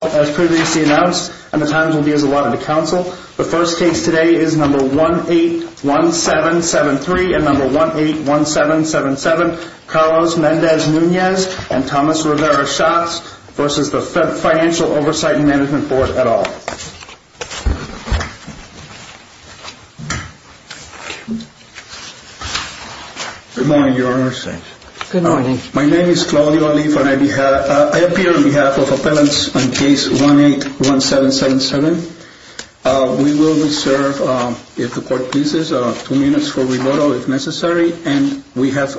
As previously announced and the times will be as allotted to counsel, the first case today is number 181773 and number 181777, Carlos Mendez-Nunez and Thomas Rivera-Schatz v. The Financial Oversight and Management Board, et al. Good morning, Your Honor. Good morning. My name is Claudio Oliva and I appear on behalf of appellants on case 181777. We will be served, if the court pleases, two minutes for rebuttal if necessary and we have...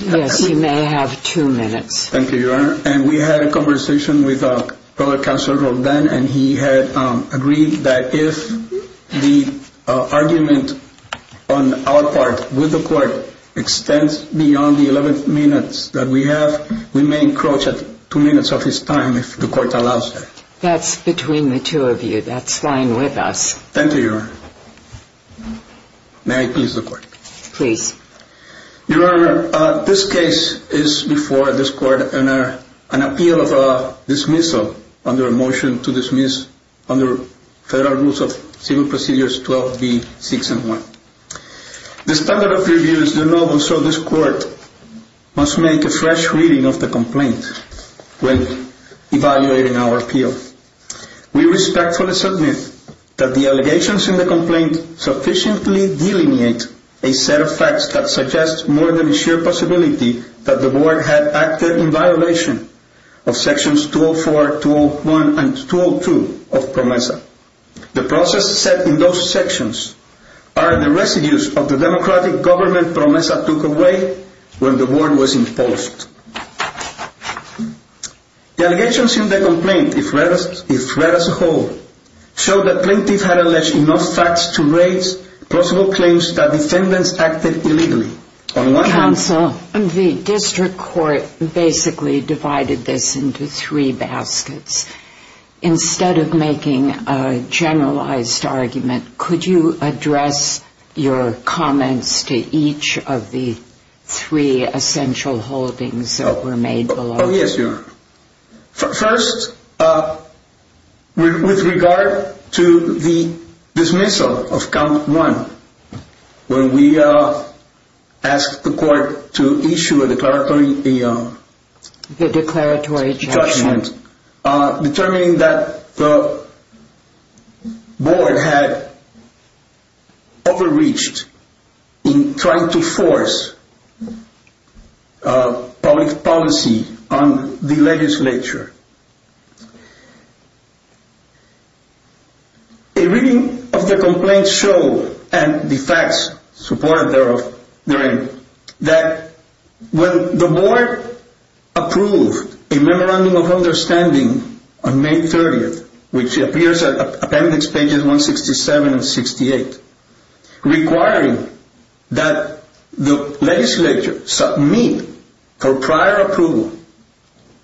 Yes, you may have two minutes. Thank you, Your Honor. And we had a conversation with a fellow counsel, Roldan, and he had agreed that if the argument on our part with the court extends beyond the 11 minutes that we have, we may encroach at two minutes of his time if the court allows it. That's between the two of you. That's fine with us. Thank you, Your Honor. May I please the court? Please. Your Honor, this case is before this court in an appeal of dismissal under a motion to dismiss under federal rules of civil procedures 12B, 6 and 1. The standard of review is the norm and so this court must make a fresh reading of the complaint when evaluating our appeal. We respectfully submit that the allegations in the complaint sufficiently delineate a set of facts that suggest more than a sheer possibility that the board had acted in violation of sections 204, 201 and 202 of PROMESA. The process set in those sections are the residues of the democratic government PROMESA took away when the board was imposed. The allegations in the complaint, if read as a whole, show that plaintiffs had alleged enough facts to raise possible claims that defendants acted illegally. Counsel, the district court basically divided this into three baskets. Instead of making a generalized argument, could you address your comments to each of the three essential holdings that were made below? Oh yes, Your Honor. First, with regard to the dismissal of count one, when we asked the court to issue a declaratory judgment, determining that the board had overreached in trying to force public policy on the legislature. A reading of the complaint showed, and the facts supported therein, that when the board approved a memorandum of understanding on May 30th, which appears at appendix pages 167 and 68, requiring that the legislature submit for prior approval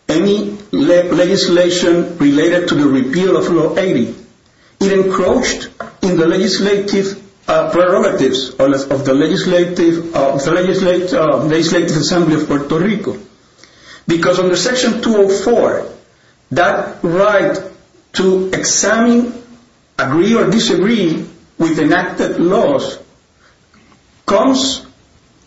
any legislation related to the repeal of Law 80, it encroached in the legislative prerogatives of the Legislative Assembly of Puerto Rico. Because under Section 204, that right to examine, agree or disagree with enacted laws comes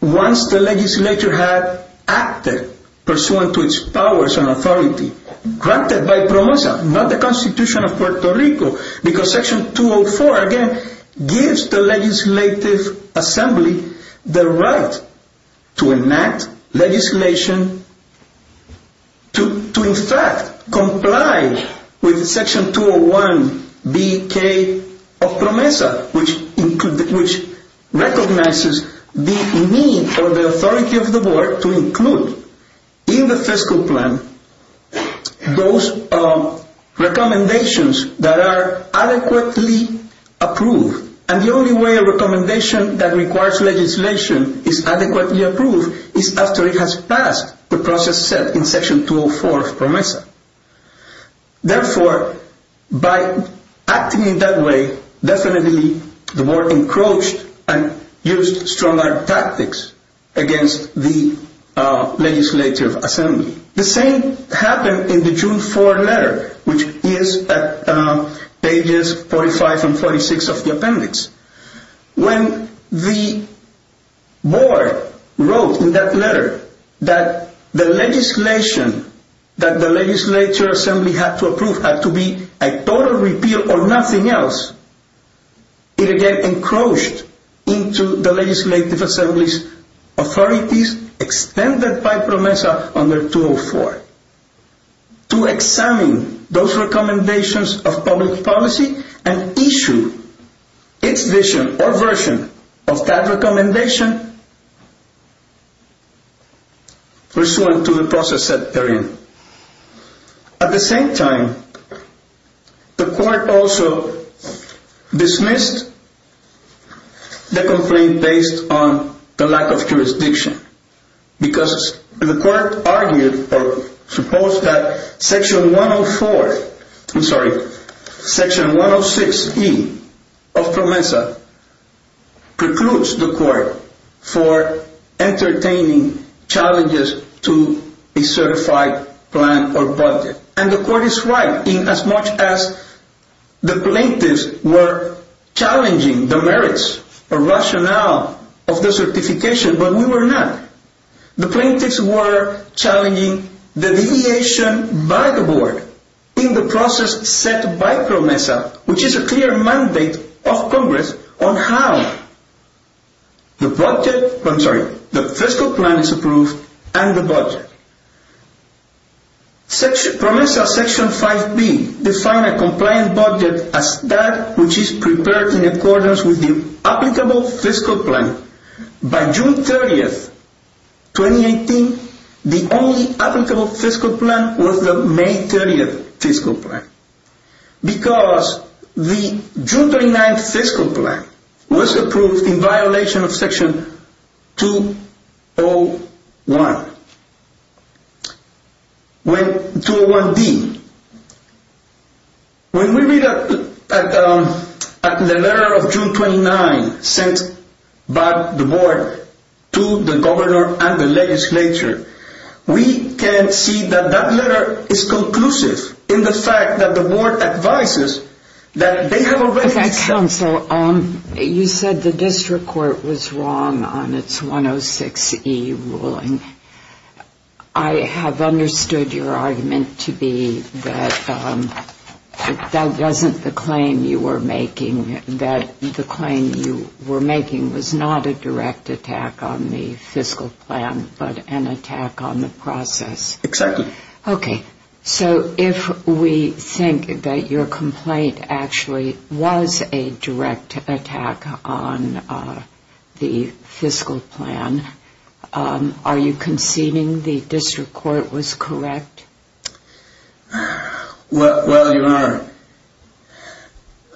once the legislature has acted pursuant to its powers and authority, granted by PROMESA, not the Constitution of Puerto Rico. Because Section 204, again, gives the Legislative Assembly the right to enact legislation to in fact comply with Section 201BK of PROMESA, which recognizes the need for the authority of the board to include in the fiscal plan those recommendations that are adequately approved. And the only way a recommendation that requires legislation is adequately approved is after it has passed the process set in Section 204 of PROMESA. Therefore, by acting in that way, definitely the board encroached and used stronger tactics against the Legislative Assembly. The same happened in the June 4 letter, which is at pages 45 and 46 of the appendix. When the board wrote in that letter that the legislation that the Legislative Assembly had to approve had to be a total repeal or nothing else, it again encroached into the Legislative Assembly's authorities, extended by PROMESA under 204, to examine those recommendations of public policy and issue its vision or version of that recommendation pursuant to the process set therein. At the same time, the court also dismissed the complaint based on the lack of jurisdiction. Because the court argued, or supposed that Section 104, I'm sorry, Section 106E of PROMESA precludes the court for entertaining challenges to a certified plan or project. And the court is right in as much as the plaintiffs were challenging the merits or rationale of the certification, but we were not. The plaintiffs were challenging the deviation by the board in the process set by PROMESA, which is a clear mandate of Congress on how the fiscal plan is approved and the budget. PROMESA Section 5B defined a compliant budget as that which is prepared in accordance with the applicable fiscal plan. By June 30th, 2018, the only applicable fiscal plan was the May 30th fiscal plan. Because the June 29th fiscal plan was approved in violation of Section 201D. When we read the letter of June 29 sent by the board to the governor and the legislature, we can see that that letter is conclusive in the fact that the board advises that they have already You said the district court was wrong on its 106E ruling. I have understood your argument to be that that wasn't the claim you were making, that the claim you were making was not a direct attack on the fiscal plan, but an attack on the process. Exactly. Okay, so if we think that your complaint actually was a direct attack on the fiscal plan, are you conceding the district court was correct? Well, you are.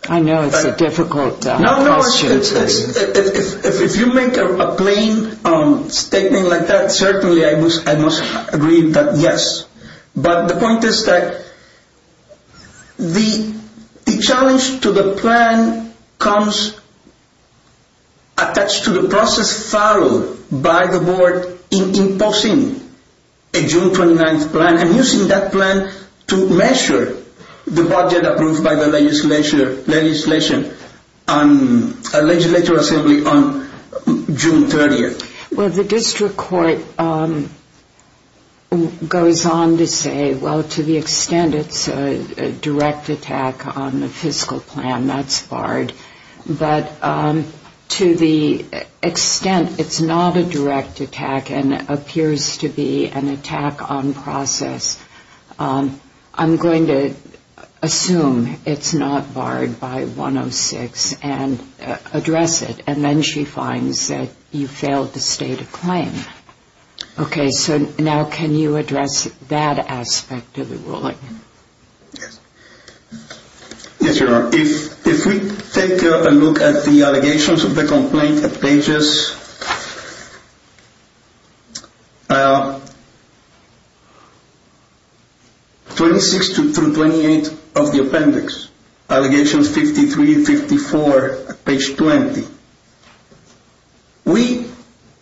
I know it's a difficult question. If you make a plain statement like that, certainly I must agree that yes, but the point is that the challenge to the plan comes attached to the process followed by the board in imposing a June 29th plan and using that plan to measure the budget approved by the legislature on June 30th. Well, the district court goes on to say, well, to the extent it's a direct attack on the fiscal plan, that's barred, but to the extent it's not a direct attack and appears to be an attack on process, I'm going to assume it's not barred by 106 and address it, and then she finds that you failed to state a claim. Okay, so now can you address that aspect of the ruling? Yes. Yes, Your Honor, if we take a look at the allegations of the complaint at pages 26 through 28 of the appendix, allegations 53, 54, page 20, we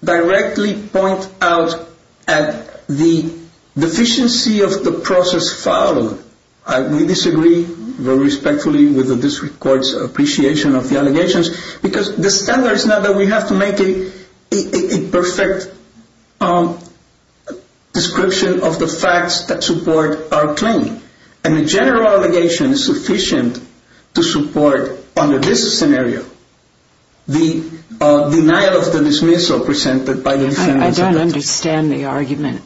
directly point out the deficiency of the process followed. We disagree very respectfully with the district court's appreciation of the allegations because the standard is not that we have to make a perfect description of the facts that support our claim. And the general allegation is sufficient to support under this scenario the denial of the dismissal presented by the defendant. I don't understand the argument.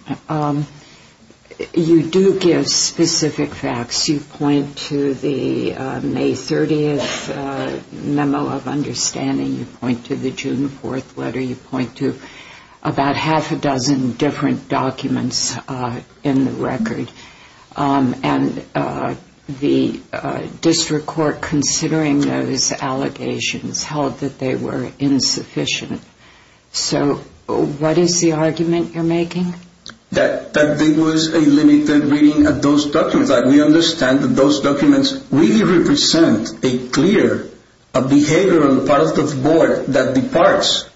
You do give specific facts. You point to the May 30th memo of understanding. You point to the June 4th letter. You point to about half a dozen different documents in the record, and the district court, considering those allegations, held that they were insufficient. So what is the argument you're making? That there was a limited reading of those documents. We understand that those documents really represent a clear behavioral part of the board that departs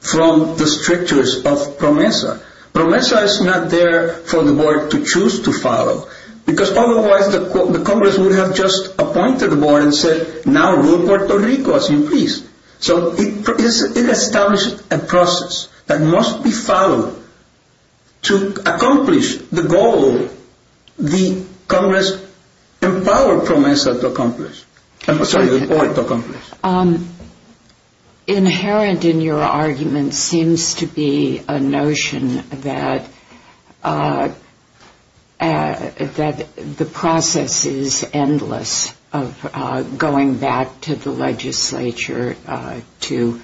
from the strictures of PROMESA. PROMESA is not there for the board to choose to follow because otherwise the Congress would have just appointed the board and said, now rule Puerto Rico as your priest. So it established a process that must be followed to accomplish the goal the Congress empowered PROMESA to accomplish. Inherent in your argument seems to be a notion that the process is endless of going back to the legislature to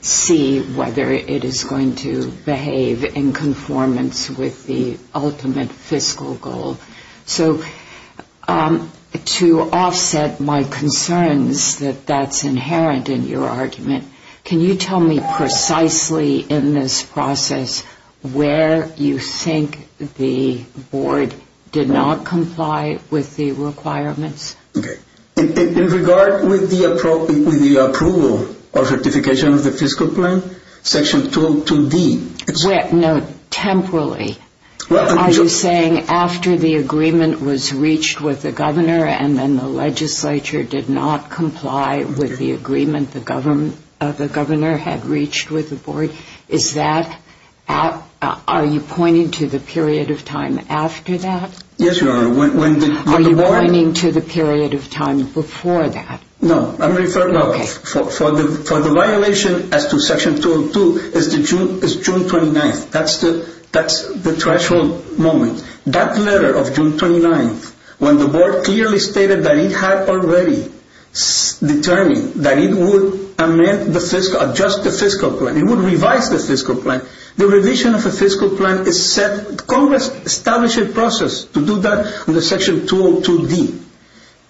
see whether it is going to behave in conformance with the ultimate fiscal goal. So to offset my concerns that that's inherent in your argument, can you tell me precisely in this process where you think the board did not comply with the requirements? In regard with the approval or certification of the fiscal plan, section 202B. Temporally. Are you saying after the agreement was reached with the governor and then the legislature did not comply with the agreement the governor had reached with the board? Are you pointing to the period of time after that? Yes, Your Honor. Are you pointing to the period of time before that? No. For the violation as to section 202 is June 29th. That's the threshold moment. That letter of June 29th when the board clearly stated that it had already determined that it would amend the fiscal, adjust the fiscal plan. It would revise the fiscal plan. The revision of the fiscal plan Congress established a process to do that under section 202D.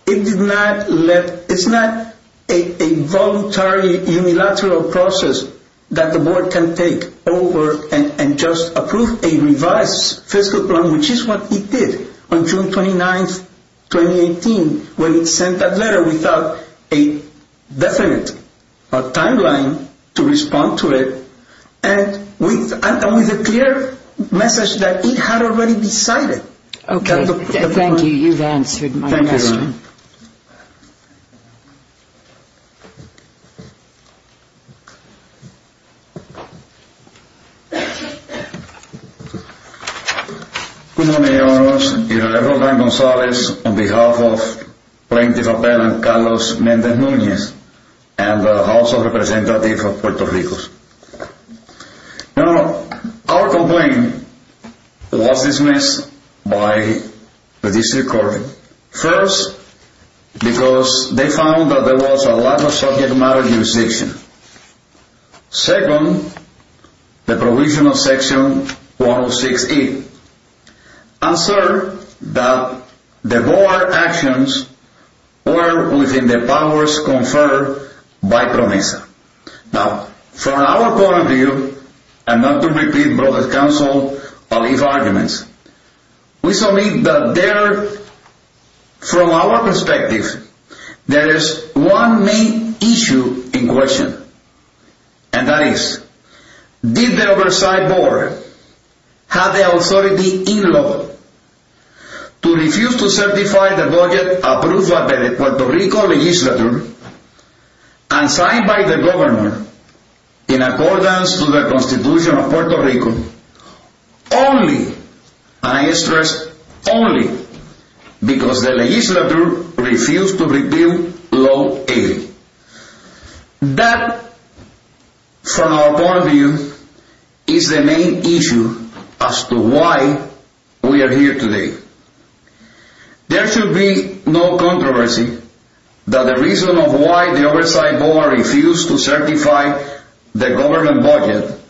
It did not let, it's not a voluntary unilateral process that the board can take over and just approve a revised fiscal plan which is what it did on June 29th, 2018 when it sent that letter without a definite timeline to respond to it and with a clear message that it had already decided. Okay. Thank you. You've answered my question. Thank you, Your Honor. Good morning, Your Honor. Your Honor, Juan Gonzalez on behalf of plaintiff appellant Carlos Mendez Nunez and also representative of Puerto Rico. Now, our complaint was dismissed by the district court first because they found that there was a lack of subject matter jurisdiction. Second, the provision of section 106E asserted that the board actions were within the powers conferred by PROMESA. Now, from our point of view, and not to repeat brother's counsel or leave arguments, we submit that there, from our perspective, there is one main issue in question. And that is, did the oversight board have the authority in law to refuse to certify the budget approved by the Puerto Rico legislature and signed by the government in accordance to the constitution of Puerto Rico? Only, and I stress only, because the legislature refused to repeal law 80. That, from our point of view, is the main issue as to why we are here today. There should be no controversy that the reason of why the oversight board refused to certify the government budget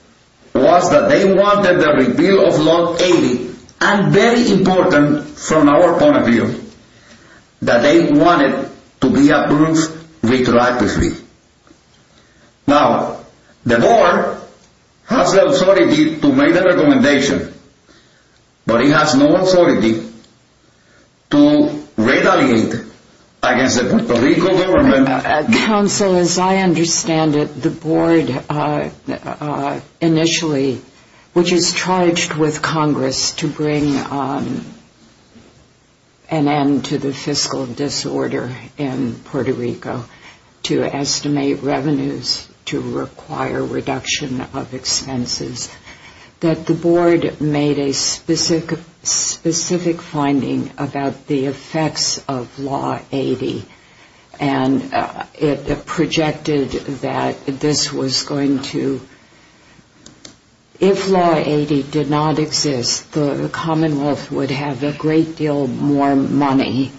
was that they wanted the repeal of law 80, and very important from our point of view, that they wanted to be approved retroactively. Now, the board has the authority to make the recommendation, but it has no authority to retaliate against the Puerto Rico government. Counsel, as I understand it, the board initially, which is charged with Congress to bring an end to the fiscal disorder in Puerto Rico, to estimate revenues to require reduction of expenses, that the board made a specific finding about the effects of law 80. And it projected that this was going to, if law 80 did not exist, the commonwealth would have a great deal more money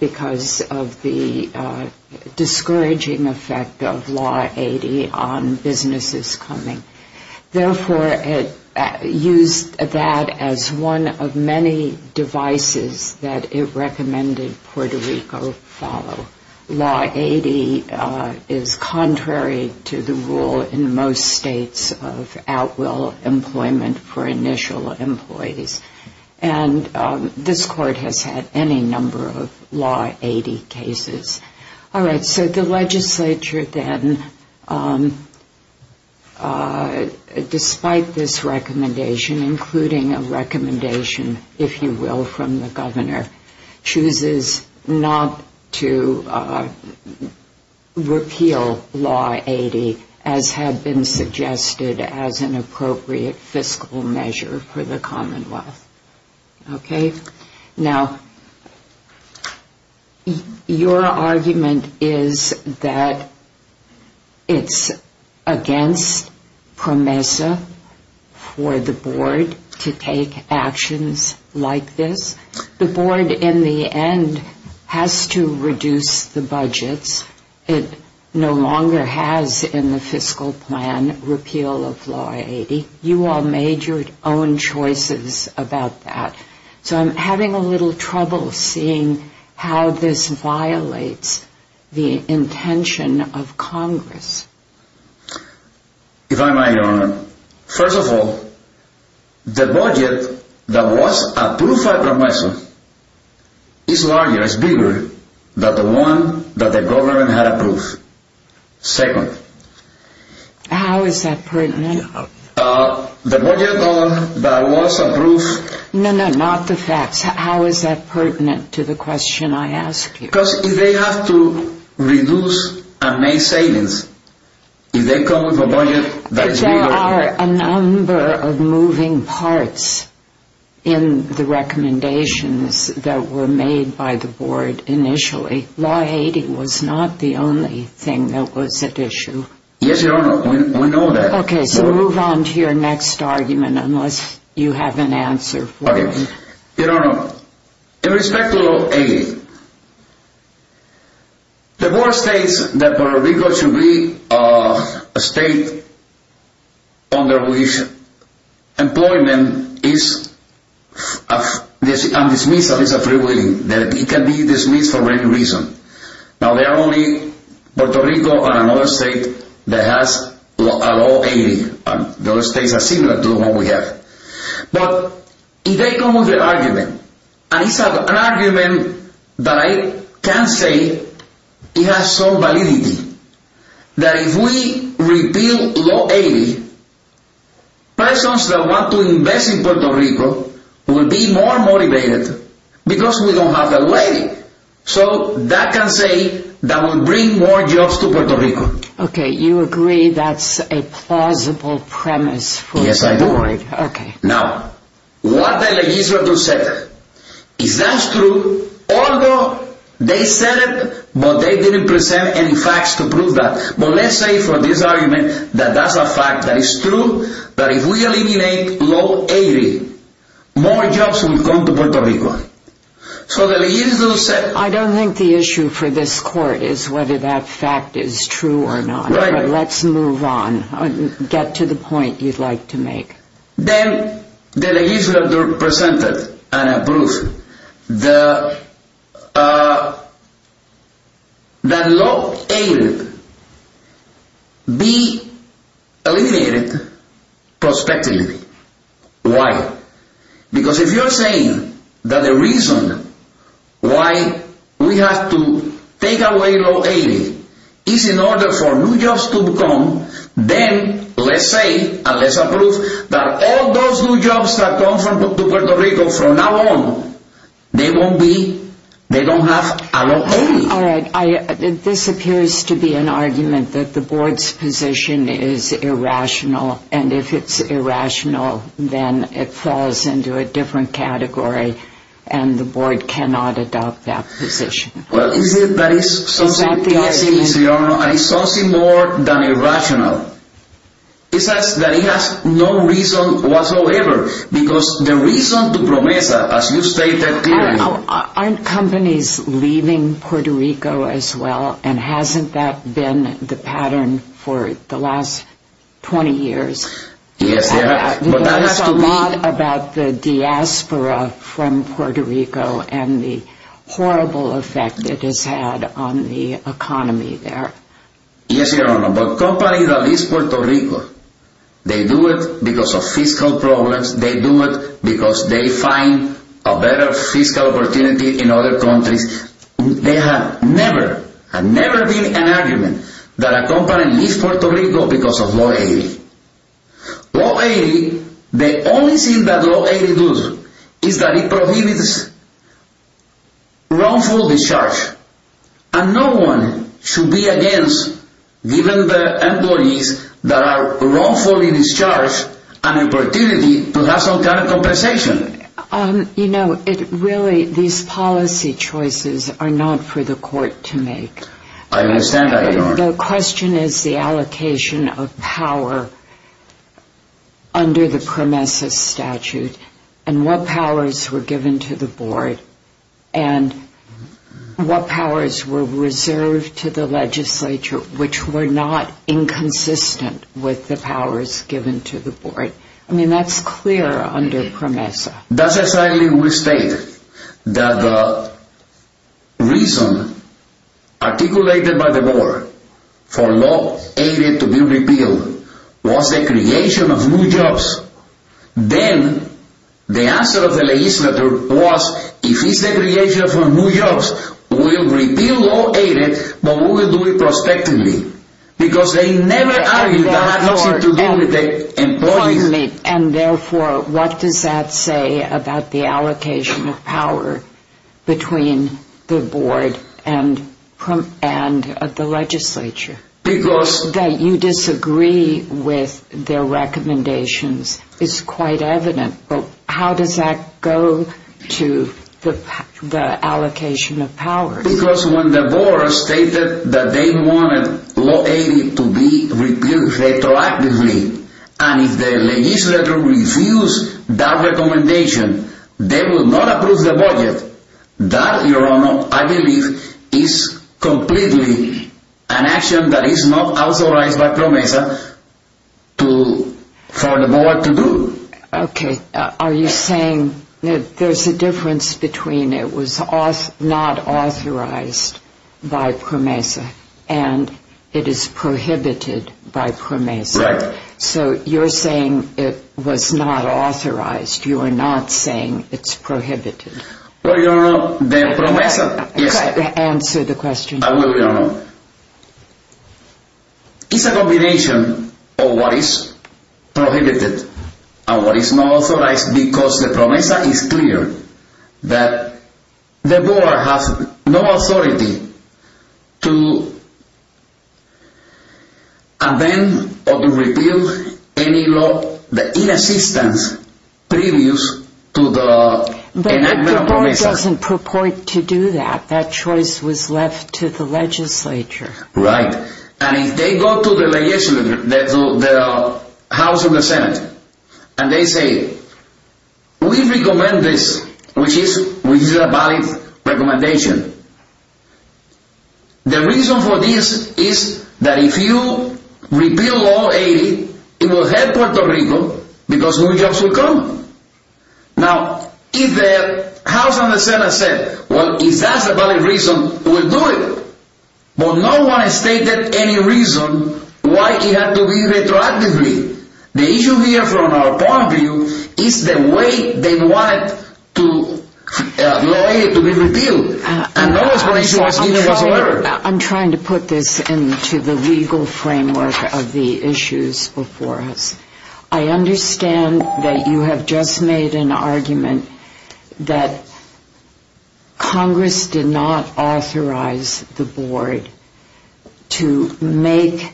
because of the discouraging effect of law 80 on businesses coming. Therefore, it used that as one of many devices that it recommended Puerto Rico follow. Law 80 is contrary to the rule in most states of outwill employment for initial employees, and this court has had any number of law 80 cases. All right, so the legislature then, despite this recommendation, including a recommendation, if you will, from the governor, chooses not to repeal law 80, as had been suggested as an appropriate fiscal measure for the commonwealth. Okay, now, your argument is that it's against PROMESA for the board to take actions like this. The board, in the end, has to reduce the budgets. It no longer has in the fiscal plan repeal of law 80. You all made your own choices about that. So I'm having a little trouble seeing how this violates the intention of Congress. If I may, Your Honor, first of all, the budget that was approved by PROMESA is larger, is bigger, than the one that the government had approved. Second... How is that pertinent? The budget that was approved... No, no, not the facts. How is that pertinent to the question I ask you? Because if they have to reduce and make savings, if they come with a budget that is bigger... There are a number of moving parts in the recommendations that were made by the board initially. Law 80 was not the only thing that was at issue. Yes, Your Honor, we know that. Okay, so move on to your next argument, unless you have an answer for it. Okay, Your Honor, in respect to law 80, the board states that Puerto Rico should be a state under which employment is undismissed and is freewheeling. It can be dismissed for any reason. Now there are only Puerto Rico and another state that has a law 80. The other states are similar to the one we have. But if they come with an argument, and it's an argument that I can say it has some validity. That if we repeal law 80, persons that want to invest in Puerto Rico will be more motivated because we don't have the law 80. So that can say that will bring more jobs to Puerto Rico. Okay, you agree that's a plausible premise for the board. Yes, I do. Now, what the legislature said, is that true? Although they said it, but they didn't present any facts to prove that. But let's say for this argument that that's a fact that is true, that if we eliminate law 80, more jobs will come to Puerto Rico. I don't think the issue for this court is whether that fact is true or not. Let's move on. Get to the point you'd like to make. Then the legislature presented a proof that law 80 be eliminated prospectively. Why? Because if you're saying that the reason why we have to take away law 80 is in order for new jobs to come, then let's say, and let's approve, that all those new jobs that come to Puerto Rico from now on, they won't be, they don't have a law 80. All right, this appears to be an argument that the board's position is irrational, and if it's irrational, then it falls into a different category, and the board cannot adopt that position. Well, is it that it's something more than irrational? It says that it has no reason whatsoever, because the reason to promise that, as you stated clearly. Aren't companies leaving Puerto Rico as well, and hasn't that been the pattern for the last 20 years? Yes, they have. We've heard a lot about the diaspora from Puerto Rico and the horrible effect it has had on the economy there. Yes, Your Honor, but companies that leave Puerto Rico, they do it because of fiscal problems, they do it because they find a better fiscal opportunity in other countries. They have never, have never been an argument that a company leaves Puerto Rico because of law 80. Law 80, the only thing that law 80 does is that it prohibits wrongful discharge, and no one should be against giving the employees that are wrongfully discharged an opportunity to have some kind of compensation. You know, it really, these policy choices are not for the court to make. I understand that, Your Honor. The question is the allocation of power under the PROMESA statute, and what powers were given to the board, and what powers were reserved to the legislature which were not inconsistent with the powers given to the board. I mean, that's clear under PROMESA. We state that the reason articulated by the board for law 80 to be repealed was the creation of new jobs. Then the answer of the legislature was, if it's the creation of new jobs, we'll repeal law 80, but we will do it prospectively, because they never argued that had nothing to do with the employees. And therefore, what does that say about the allocation of power between the board and the legislature? Because... That you disagree with their recommendations is quite evident, but how does that go to the allocation of power? Because when the board stated that they wanted law 80 to be repealed retroactively, and if the legislature refused that recommendation, they would not approve the budget. That, Your Honor, I believe is completely an action that is not authorized by PROMESA for the board to do. Okay. Are you saying that there's a difference between it was not authorized by PROMESA and it is prohibited by PROMESA? Right. So you're saying it was not authorized. You are not saying it's prohibited. Well, Your Honor, the PROMESA... Answer the question. I will, Your Honor. It's a combination of what is prohibited and what is not authorized, because the PROMESA is clear that the board has no authority to amend or to repeal any law, the inassistance previous to the enactment of PROMESA. It doesn't purport to do that. That choice was left to the legislature. Right. And if they go to the House and the Senate and they say, we recommend this, which is a valid recommendation, the reason for this is that if you repeal law 80, it will hurt Puerto Rico because new jobs will come. Now, if the House and the Senate said, well, if that's a valid reason, we'll do it. But no one has stated any reason why it had to be retroactively. The issue here from our point of view is the way they wanted law 80 to be repealed. I'm trying to put this into the legal framework of the issues before us. I understand that you have just made an argument that Congress did not authorize the board to make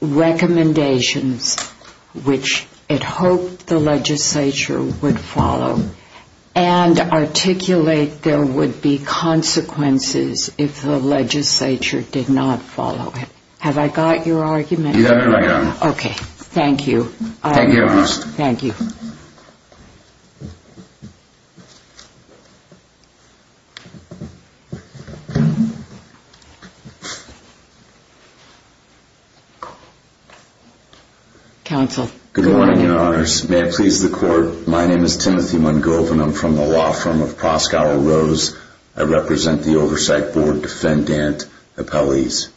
recommendations which it hoped the legislature would follow and articulate there would be consequences if the legislature did not follow it. Have I got your argument? You have it right, Your Honor. Okay. Thank you. Thank you, Your Honor. Thank you. Counsel. Good morning, Your Honors. May it please the Court, my name is Timothy Mungove and I'm from the law firm of Pascual Rose. I represent the Oversight Board Defendant Appellees.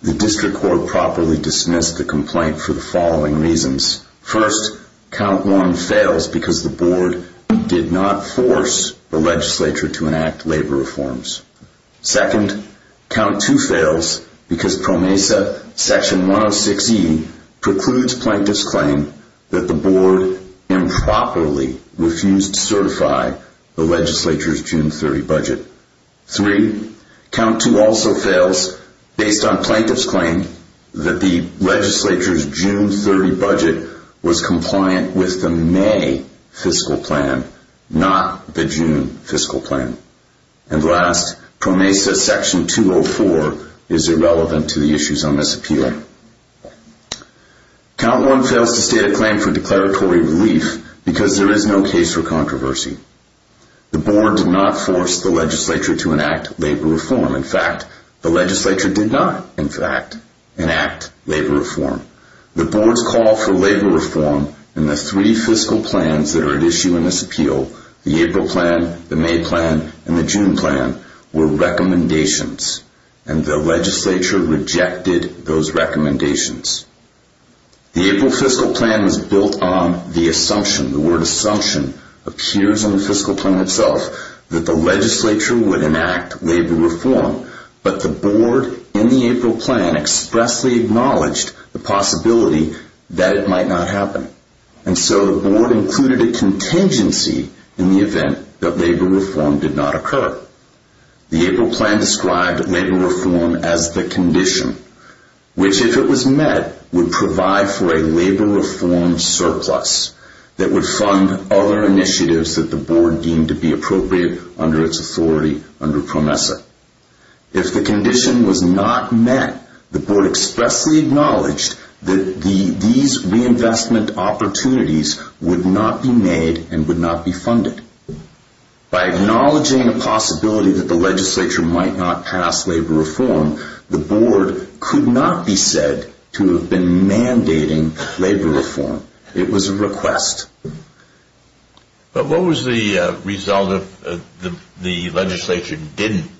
The district court properly dismissed the complaint for the following reasons. First, count one fails because the board did not force the legislature to enact labor reforms. Second, count two fails because PROMESA section 106E precludes plaintiff's claim that the board improperly refused to certify the legislature's June 30 budget. Three, count two also fails based on plaintiff's claim that the legislature's June 30 budget was compliant with the May fiscal plan, not the June fiscal plan. And last, PROMESA section 204 is irrelevant to the issues on this appeal. Count one fails to state a claim for declaratory relief because there is no case for controversy. The board did not force the legislature to enact labor reform. In fact, the legislature did not, in fact, enact labor reform. The board's call for labor reform in the three fiscal plans that are at issue in this appeal, the April plan, the May plan, and the June plan, were recommendations, and the legislature rejected those recommendations. The April fiscal plan was built on the assumption, the word assumption appears on the fiscal plan itself, that the legislature would enact labor reform, but the board in the April plan expressly acknowledged the possibility that it might not happen. And so the board included a contingency in the event that labor reform did not occur. The April plan described labor reform as the condition, which if it was met, would provide for a labor reform surplus that would fund other initiatives that the board deemed to be appropriate under its authority under PROMESA. If the condition was not met, the board expressly acknowledged that these reinvestment opportunities would not be made and would not be funded. By acknowledging the possibility that the legislature might not pass labor reform, the board could not be said to have been mandating labor reform. It was a request. But what was the result if the legislature didn't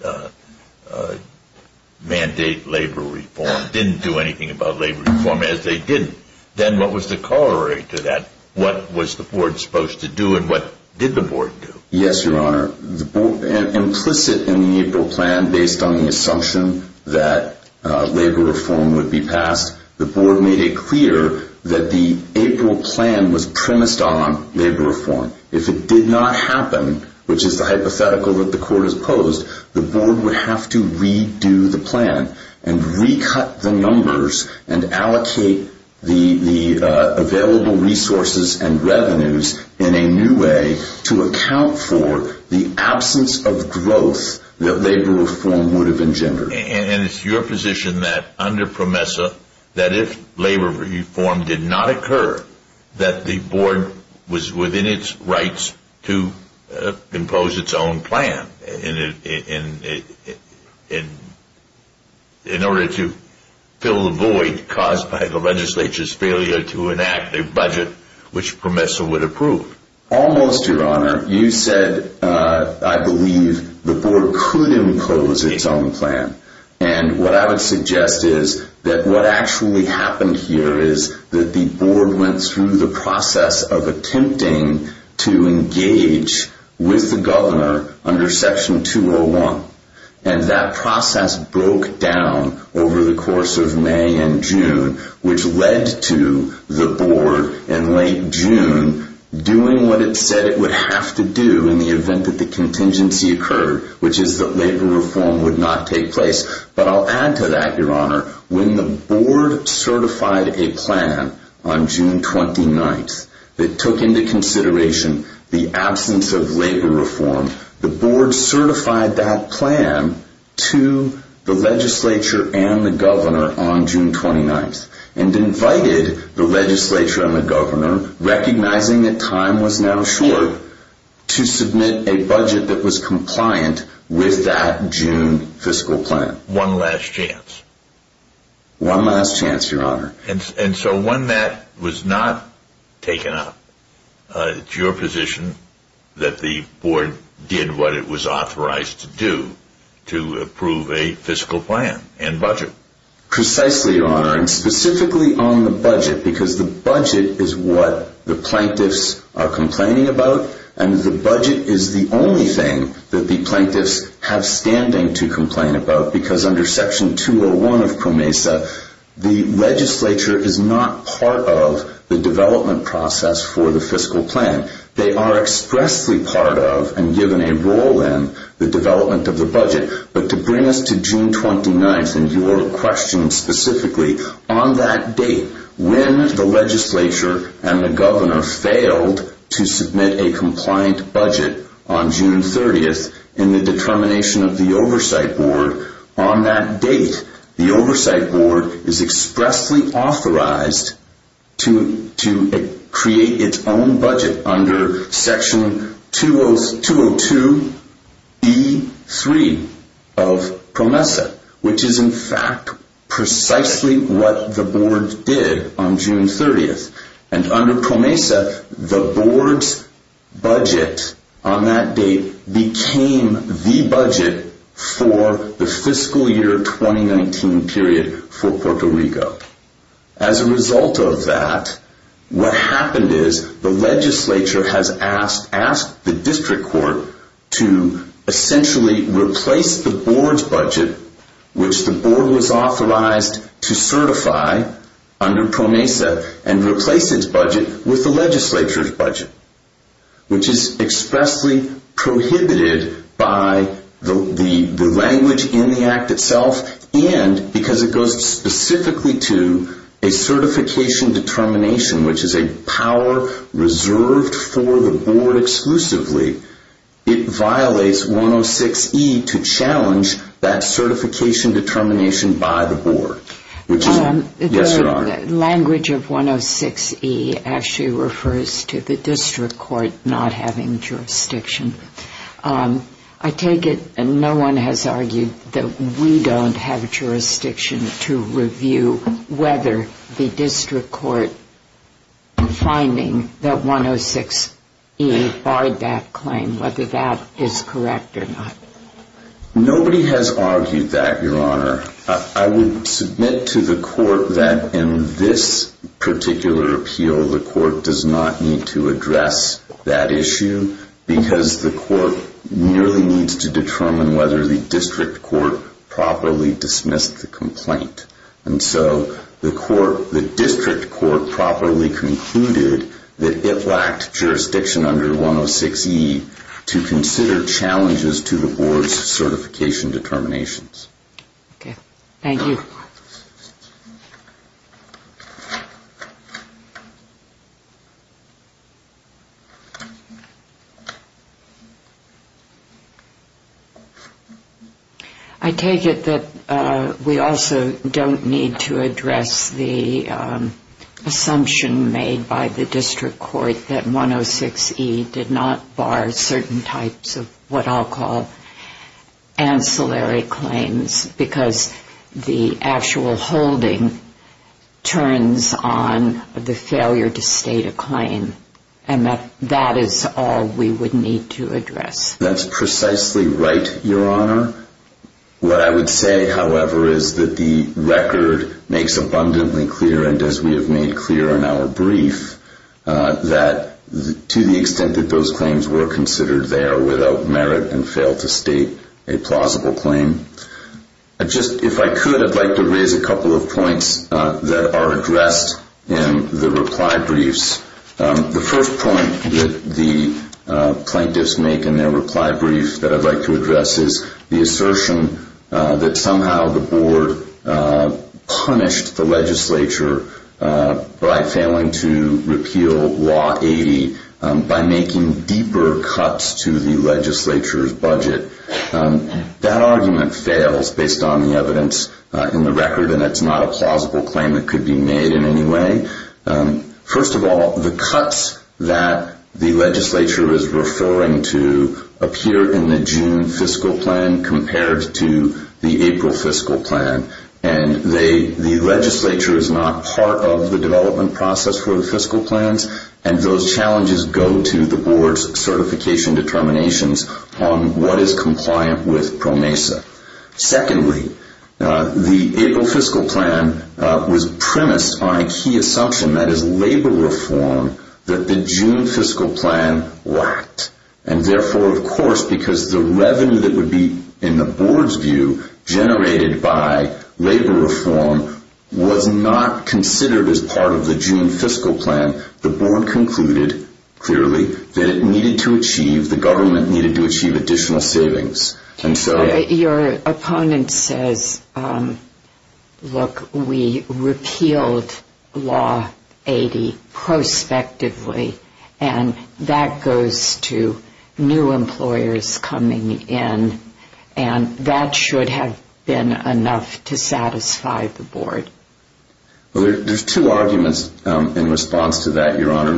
mandate labor reform, didn't do anything about labor reform, as they didn't? Then what was the corollary to that? What was the board supposed to do and what did the board do? Yes, Your Honor. Implicit in the April plan, based on the assumption that labor reform would be passed, the board made it clear that the April plan was premised on labor reform. If it did not happen, which is the hypothetical that the court has posed, the board would have to redo the plan and recut the numbers and allocate the available resources and revenues in a new way to account for the absence of growth that labor reform would have engendered. And it's your position that under PROMESA, that if labor reform did not occur, that the board was within its rights to impose its own plan in order to fill the void caused by the legislature's failure to enact a budget which PROMESA would approve? Almost, Your Honor. You said, I believe, the board could impose its own plan. And what I would suggest is that what actually happened here is that the board went through the process of attempting to engage with the governor under Section 201. And that process broke down over the course of May and June, which led to the board in late June doing what it said it would have to do in the event that the contingency occurred, which is that labor reform would not take place. But I'll add to that, Your Honor, when the board certified a plan on June 29th that took into consideration the absence of labor reform, the board certified that plan to the legislature and the governor on June 29th and invited the legislature and the governor, recognizing that time was now short, to submit a budget that was compliant with that June fiscal plan. One last chance. One last chance, Your Honor. And so when that was not taken up, it's your position that the board did what it was authorized to do, to approve a fiscal plan and budget? Precisely, Your Honor, and specifically on the budget, because the budget is what the plaintiffs are complaining about, and the budget is the only thing that the plaintiffs have standing to complain about, because under Section 201 of PROMESA, the legislature is not part of the development process for the fiscal plan. They are expressly part of and given a role in the development of the budget, but to bring us to June 29th and your question specifically, on that date, when the legislature and the governor failed to submit a compliant budget on June 30th in the determination of the oversight board, on that date, the oversight board is expressly authorized to create its own budget on June 30th. Under Section 202E3 of PROMESA, which is in fact precisely what the board did on June 30th, and under PROMESA, the board's budget on that date became the budget for the fiscal year 2019 period for Puerto Rico. As a result of that, what happened is the legislature has asked the district court to essentially replace the board's budget, which the board was authorized to certify under PROMESA, and replace its budget with the legislature's budget, which is expressly prohibited by the language in the Act itself, and because it goes specifically to a certification determination, which is a power reserved for the board exclusively, it violates 106E to challenge that certification determination by the board. The language of 106E actually refers to the district court not having jurisdiction. I take it no one has argued that we don't have jurisdiction to review whether the district court finding that 106E barred that claim, whether that is correct or not. Nobody has argued that, Your Honor. I would submit to the court that in this particular appeal, the court does not need to address that issue because the court merely needs to determine whether the district court properly dismissed the complaint. And so the district court properly concluded that it lacked jurisdiction under 106E to consider challenges to the board's certification determinations. Okay. Thank you. I take it that we also don't need to address the assumption made by the district court that 106E did not bar certain types of what I'll call ancillary claims, because the ancillary claims are not subject to the district court. That's precisely right, Your Honor. What I would say, however, is that the record makes abundantly clear, and as we have made clear in our brief, that to the extent that those claims were considered, they are without merit and fail to state a plausible claim. If I could, I'd like to raise a couple of points that are addressed in the reply briefs. The first point that the plaintiffs make in their reply brief that I'd like to address is the assertion that somehow the board punished the legislature by failing to repeal Law 80 by making deeper cuts to the legislature's budget. That argument fails based on the evidence in the record, and it's not a plausible claim that could be made in any way. First of all, the cuts that the legislature is referring to appear in the June fiscal plan compared to the April fiscal plan, and the legislature is not part of the development process for the fiscal plans, and those challenges go to the board's certification determinations on what is compliant with PROMESA. Secondly, the April fiscal plan was premised on a key assumption, that is, labor reform, that the June fiscal plan lacked, and therefore, of course, because the revenue that would be, in the board's view, generated by labor reform was not considered as part of the June fiscal plan, the board concluded, clearly, that it needed to achieve, the government needed to achieve additional savings. Your opponent says, look, we repealed Law 80 prospectively, and that goes to new employers coming in, and that should have been enough to satisfy the board. Well, there's two arguments in response to that, Your Honor.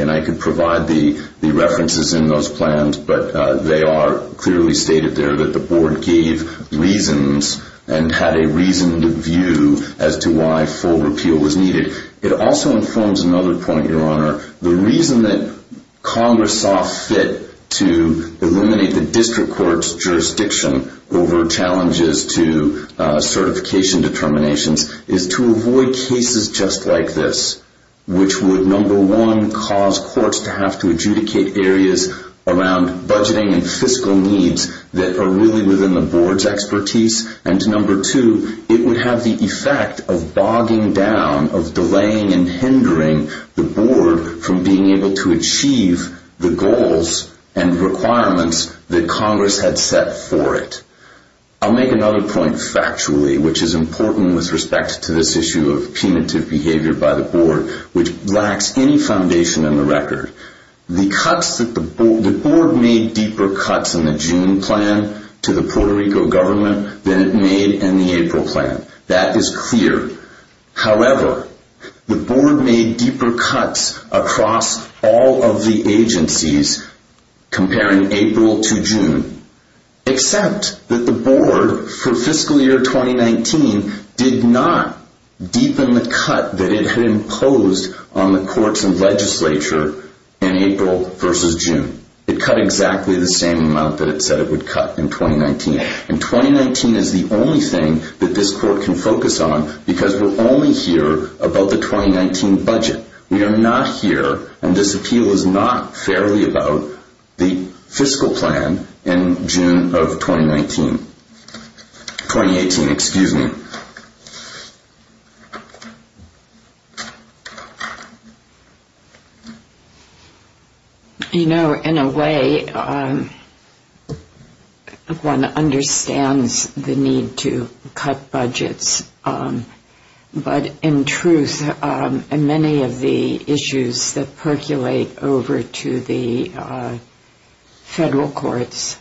And I could provide the references in those plans, but they are clearly stated there that the board gave reasons and had a reasoned view as to why full repeal was needed. It also informs another point, Your Honor. The reason that Congress saw fit to eliminate the district court's jurisdiction over challenges to certification determinations is to avoid cases just like this, which would, number one, cause courts to have to adjudicate areas around budgeting and fiscal needs that are really within the board's expertise, and, number two, it would have the effect of bogging down, of delaying the process. Delaying and hindering the board from being able to achieve the goals and requirements that Congress had set for it. I'll make another point factually, which is important with respect to this issue of punitive behavior by the board, which lacks any foundation in the record. The cuts that the board, the board made deeper cuts in the June plan to the Puerto Rico government than it made in the April plan. That is clear. However, the board made deeper cuts across all of the agencies comparing April to June, except that the board for fiscal year 2019 did not deepen the cut that it had imposed on the courts and legislature in April versus June. It cut exactly the same amount that it said it would cut in 2019. And 2019 is the only thing that this court can focus on because we're only here about the 2019 budget. We are not here, and this appeal is not fairly about the fiscal plan in June of 2019. 2018, excuse me. You know, in a way, one understands the need to cut budgets, but in truth, many of the issues that percolate over to the federal courts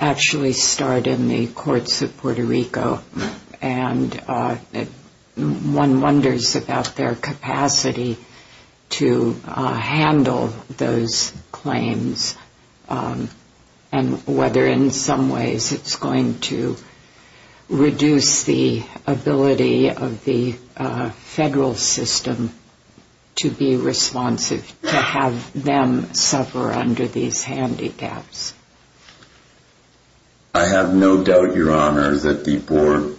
actually start in the courts of Puerto Rico. And one wonders about their capacity to handle those claims and whether in some ways it's going to reduce the ability of the federal system to be responsive, to have them suffer under these handicaps. I have no doubt, Your Honor, that the board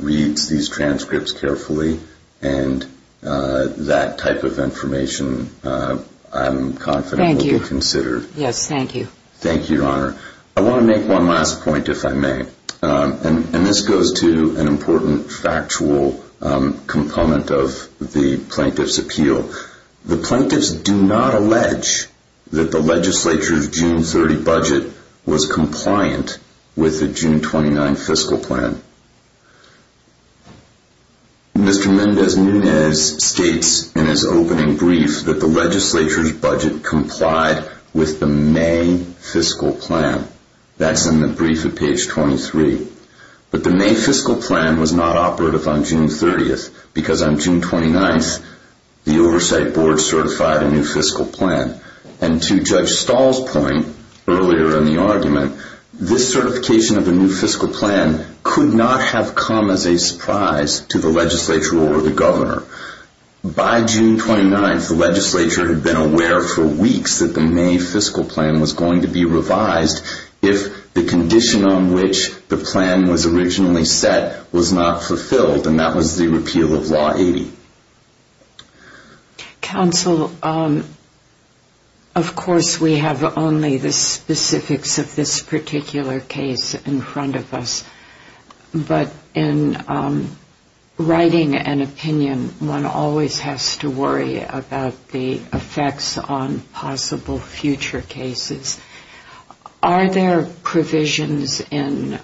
reads these transcripts carefully, and that type of information I'm confident will be considered. Thank you. Yes, thank you. Thank you, Your Honor. I want to make one last point, if I may. And this goes to an important factual component of the plaintiff's appeal. The plaintiffs do not allege that the legislature's June 30 budget was compliant with the June 29 fiscal plan. Mr. Mendez Nunez states in his opening brief that the legislature's budget complied with the May fiscal plan. That's in the brief at page 23. But the May fiscal plan was not operative on June 30, because on June 29, the Oversight Board certified a new fiscal plan. And to Judge Stahl's point earlier in the argument, this certification of a new fiscal plan could not have come as a surprise to the legislature or the governor. By June 29, the legislature had been aware for weeks that the May fiscal plan was going to be revised if the condition on which the plan was originally set was not fulfilled. And that was the repeal of Law 80. Counsel, of course, we have only the specifics of this particular case in front of us. But in writing an opinion, one always has to worry about the effects on possible future cases. Are there provisions in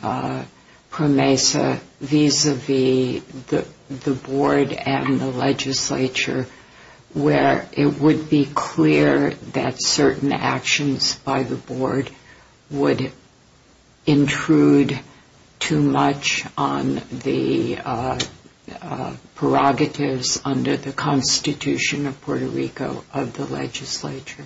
PROMESA vis-à-vis the board and the legislature where it would be clear that certain actions by the board would intrude too much on the prerogatives under the Constitution of Puerto Rico of the legislature?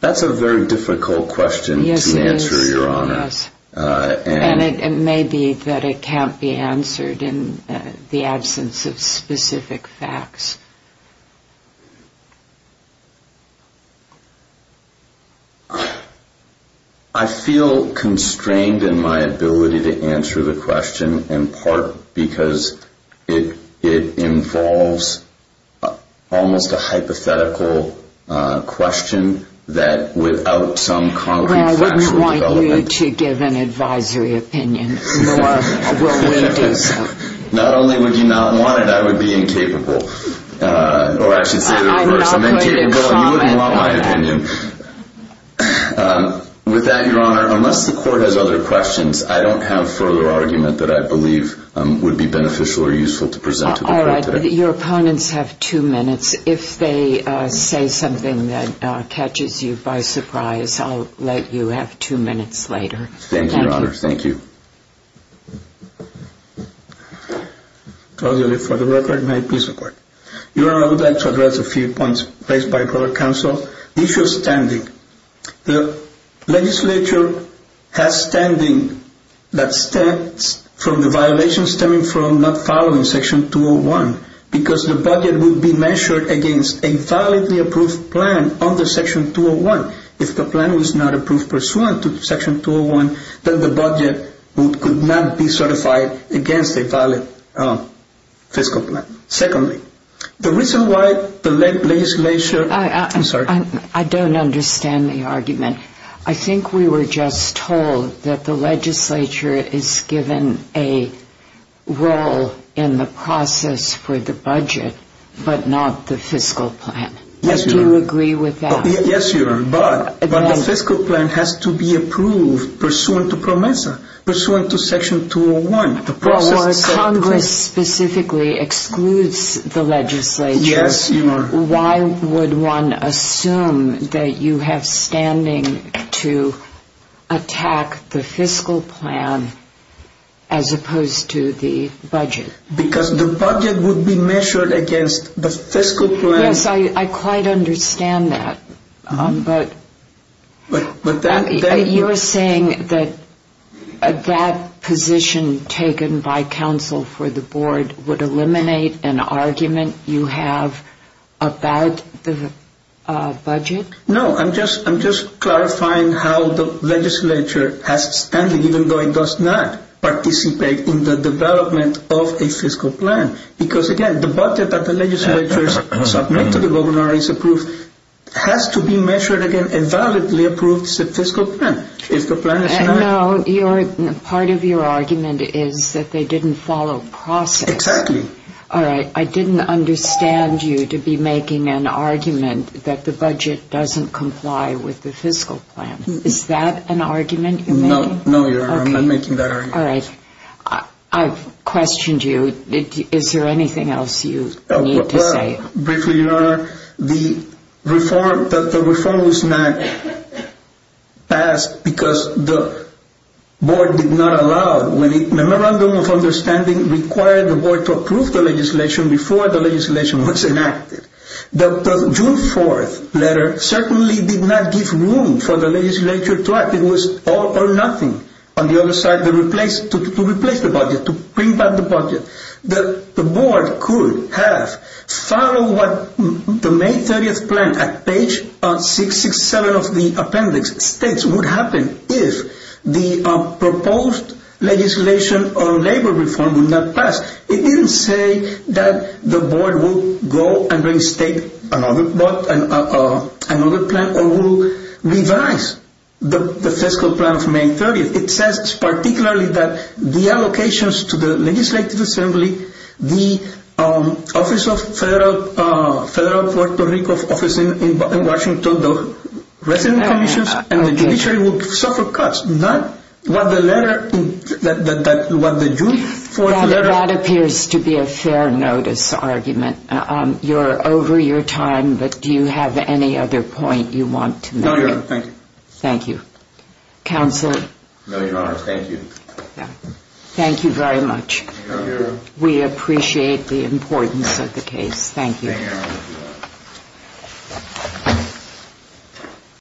That's a very difficult question to answer, Your Honor. Yes, it is. And it may be that it can't be answered in the absence of specific facts. I feel constrained in my ability to answer the question in part because it involves almost a hypothetical question that without some concrete factual development... Well, I wouldn't want you to give an advisory opinion, nor will we do so. Not only would you not want it, I would be incapable. I'm not going to comment on that. With that, Your Honor, unless the court has other questions, I don't have further argument that I believe would be beneficial or useful to present to the court today. All right. Your opponents have two minutes. If they say something that catches you by surprise, I'll let you have two minutes later. Thank you. Thank you, Your Honor. Thank you. I'll leave it for the record. May I please record? Your Honor, I would like to address a few points placed by the court of counsel. The issue of standing. The legislature has standing that stems from the violations stemming from not following Section 201 because the budget will be measured against a validly approved plan under Section 201. If the plan was not approved pursuant to Section 201, then the budget could not be certified against a valid fiscal plan. Secondly, the reason why the legislature... I'm sorry. I don't understand the argument. I think we were just told that the legislature is given a role in the process for the budget but not the fiscal plan. Yes, Your Honor. Do you agree with that? Yes, Your Honor. But the fiscal plan has to be approved pursuant to PROMESA, pursuant to Section 201. Congress specifically excludes the legislature. Yes, Your Honor. Why would one assume that you have standing to attack the fiscal plan as opposed to the budget? Because the budget would be measured against the fiscal plan. Yes, I quite understand that. But you are saying that that position taken by counsel for the board would eliminate an argument you have about the budget? No, I'm just clarifying how the legislature has standing even though it does not participate in the development of a fiscal plan because, again, the budget that the legislature submits to the governor is approved has to be measured against a validly approved fiscal plan. No, part of your argument is that they didn't follow process. Exactly. All right. I didn't understand you to be making an argument that the budget doesn't comply with the fiscal plan. Is that an argument you made? No, Your Honor. I'm not making that argument. All right. I've questioned you. Is there anything else you need to say? Briefly, Your Honor, the reform was not passed because the board did not allow, when the memorandum of understanding required the board to approve the legislation before the legislation was enacted. The June 4th letter certainly did not give room for the legislature to act. It was all or nothing. On the other side, to replace the budget, to bring back the budget, the board could have followed what the May 30th plan at page 667 of the appendix states would happen if the proposed legislation on labor reform would not pass. It didn't say that the board would go and reinstate another plan or would revise the fiscal plan of May 30th. It says particularly that the allocations to the legislative assembly, the office of federal Puerto Rico office in Washington, the resident commissions and the judiciary would suffer cuts. That appears to be a fair notice argument. You're over your time, but do you have any other point you want to make? No, Your Honor. Thank you. Thank you. Counselor? No, Your Honor. Thank you. Thank you very much. We appreciate the importance of the case. Thank you.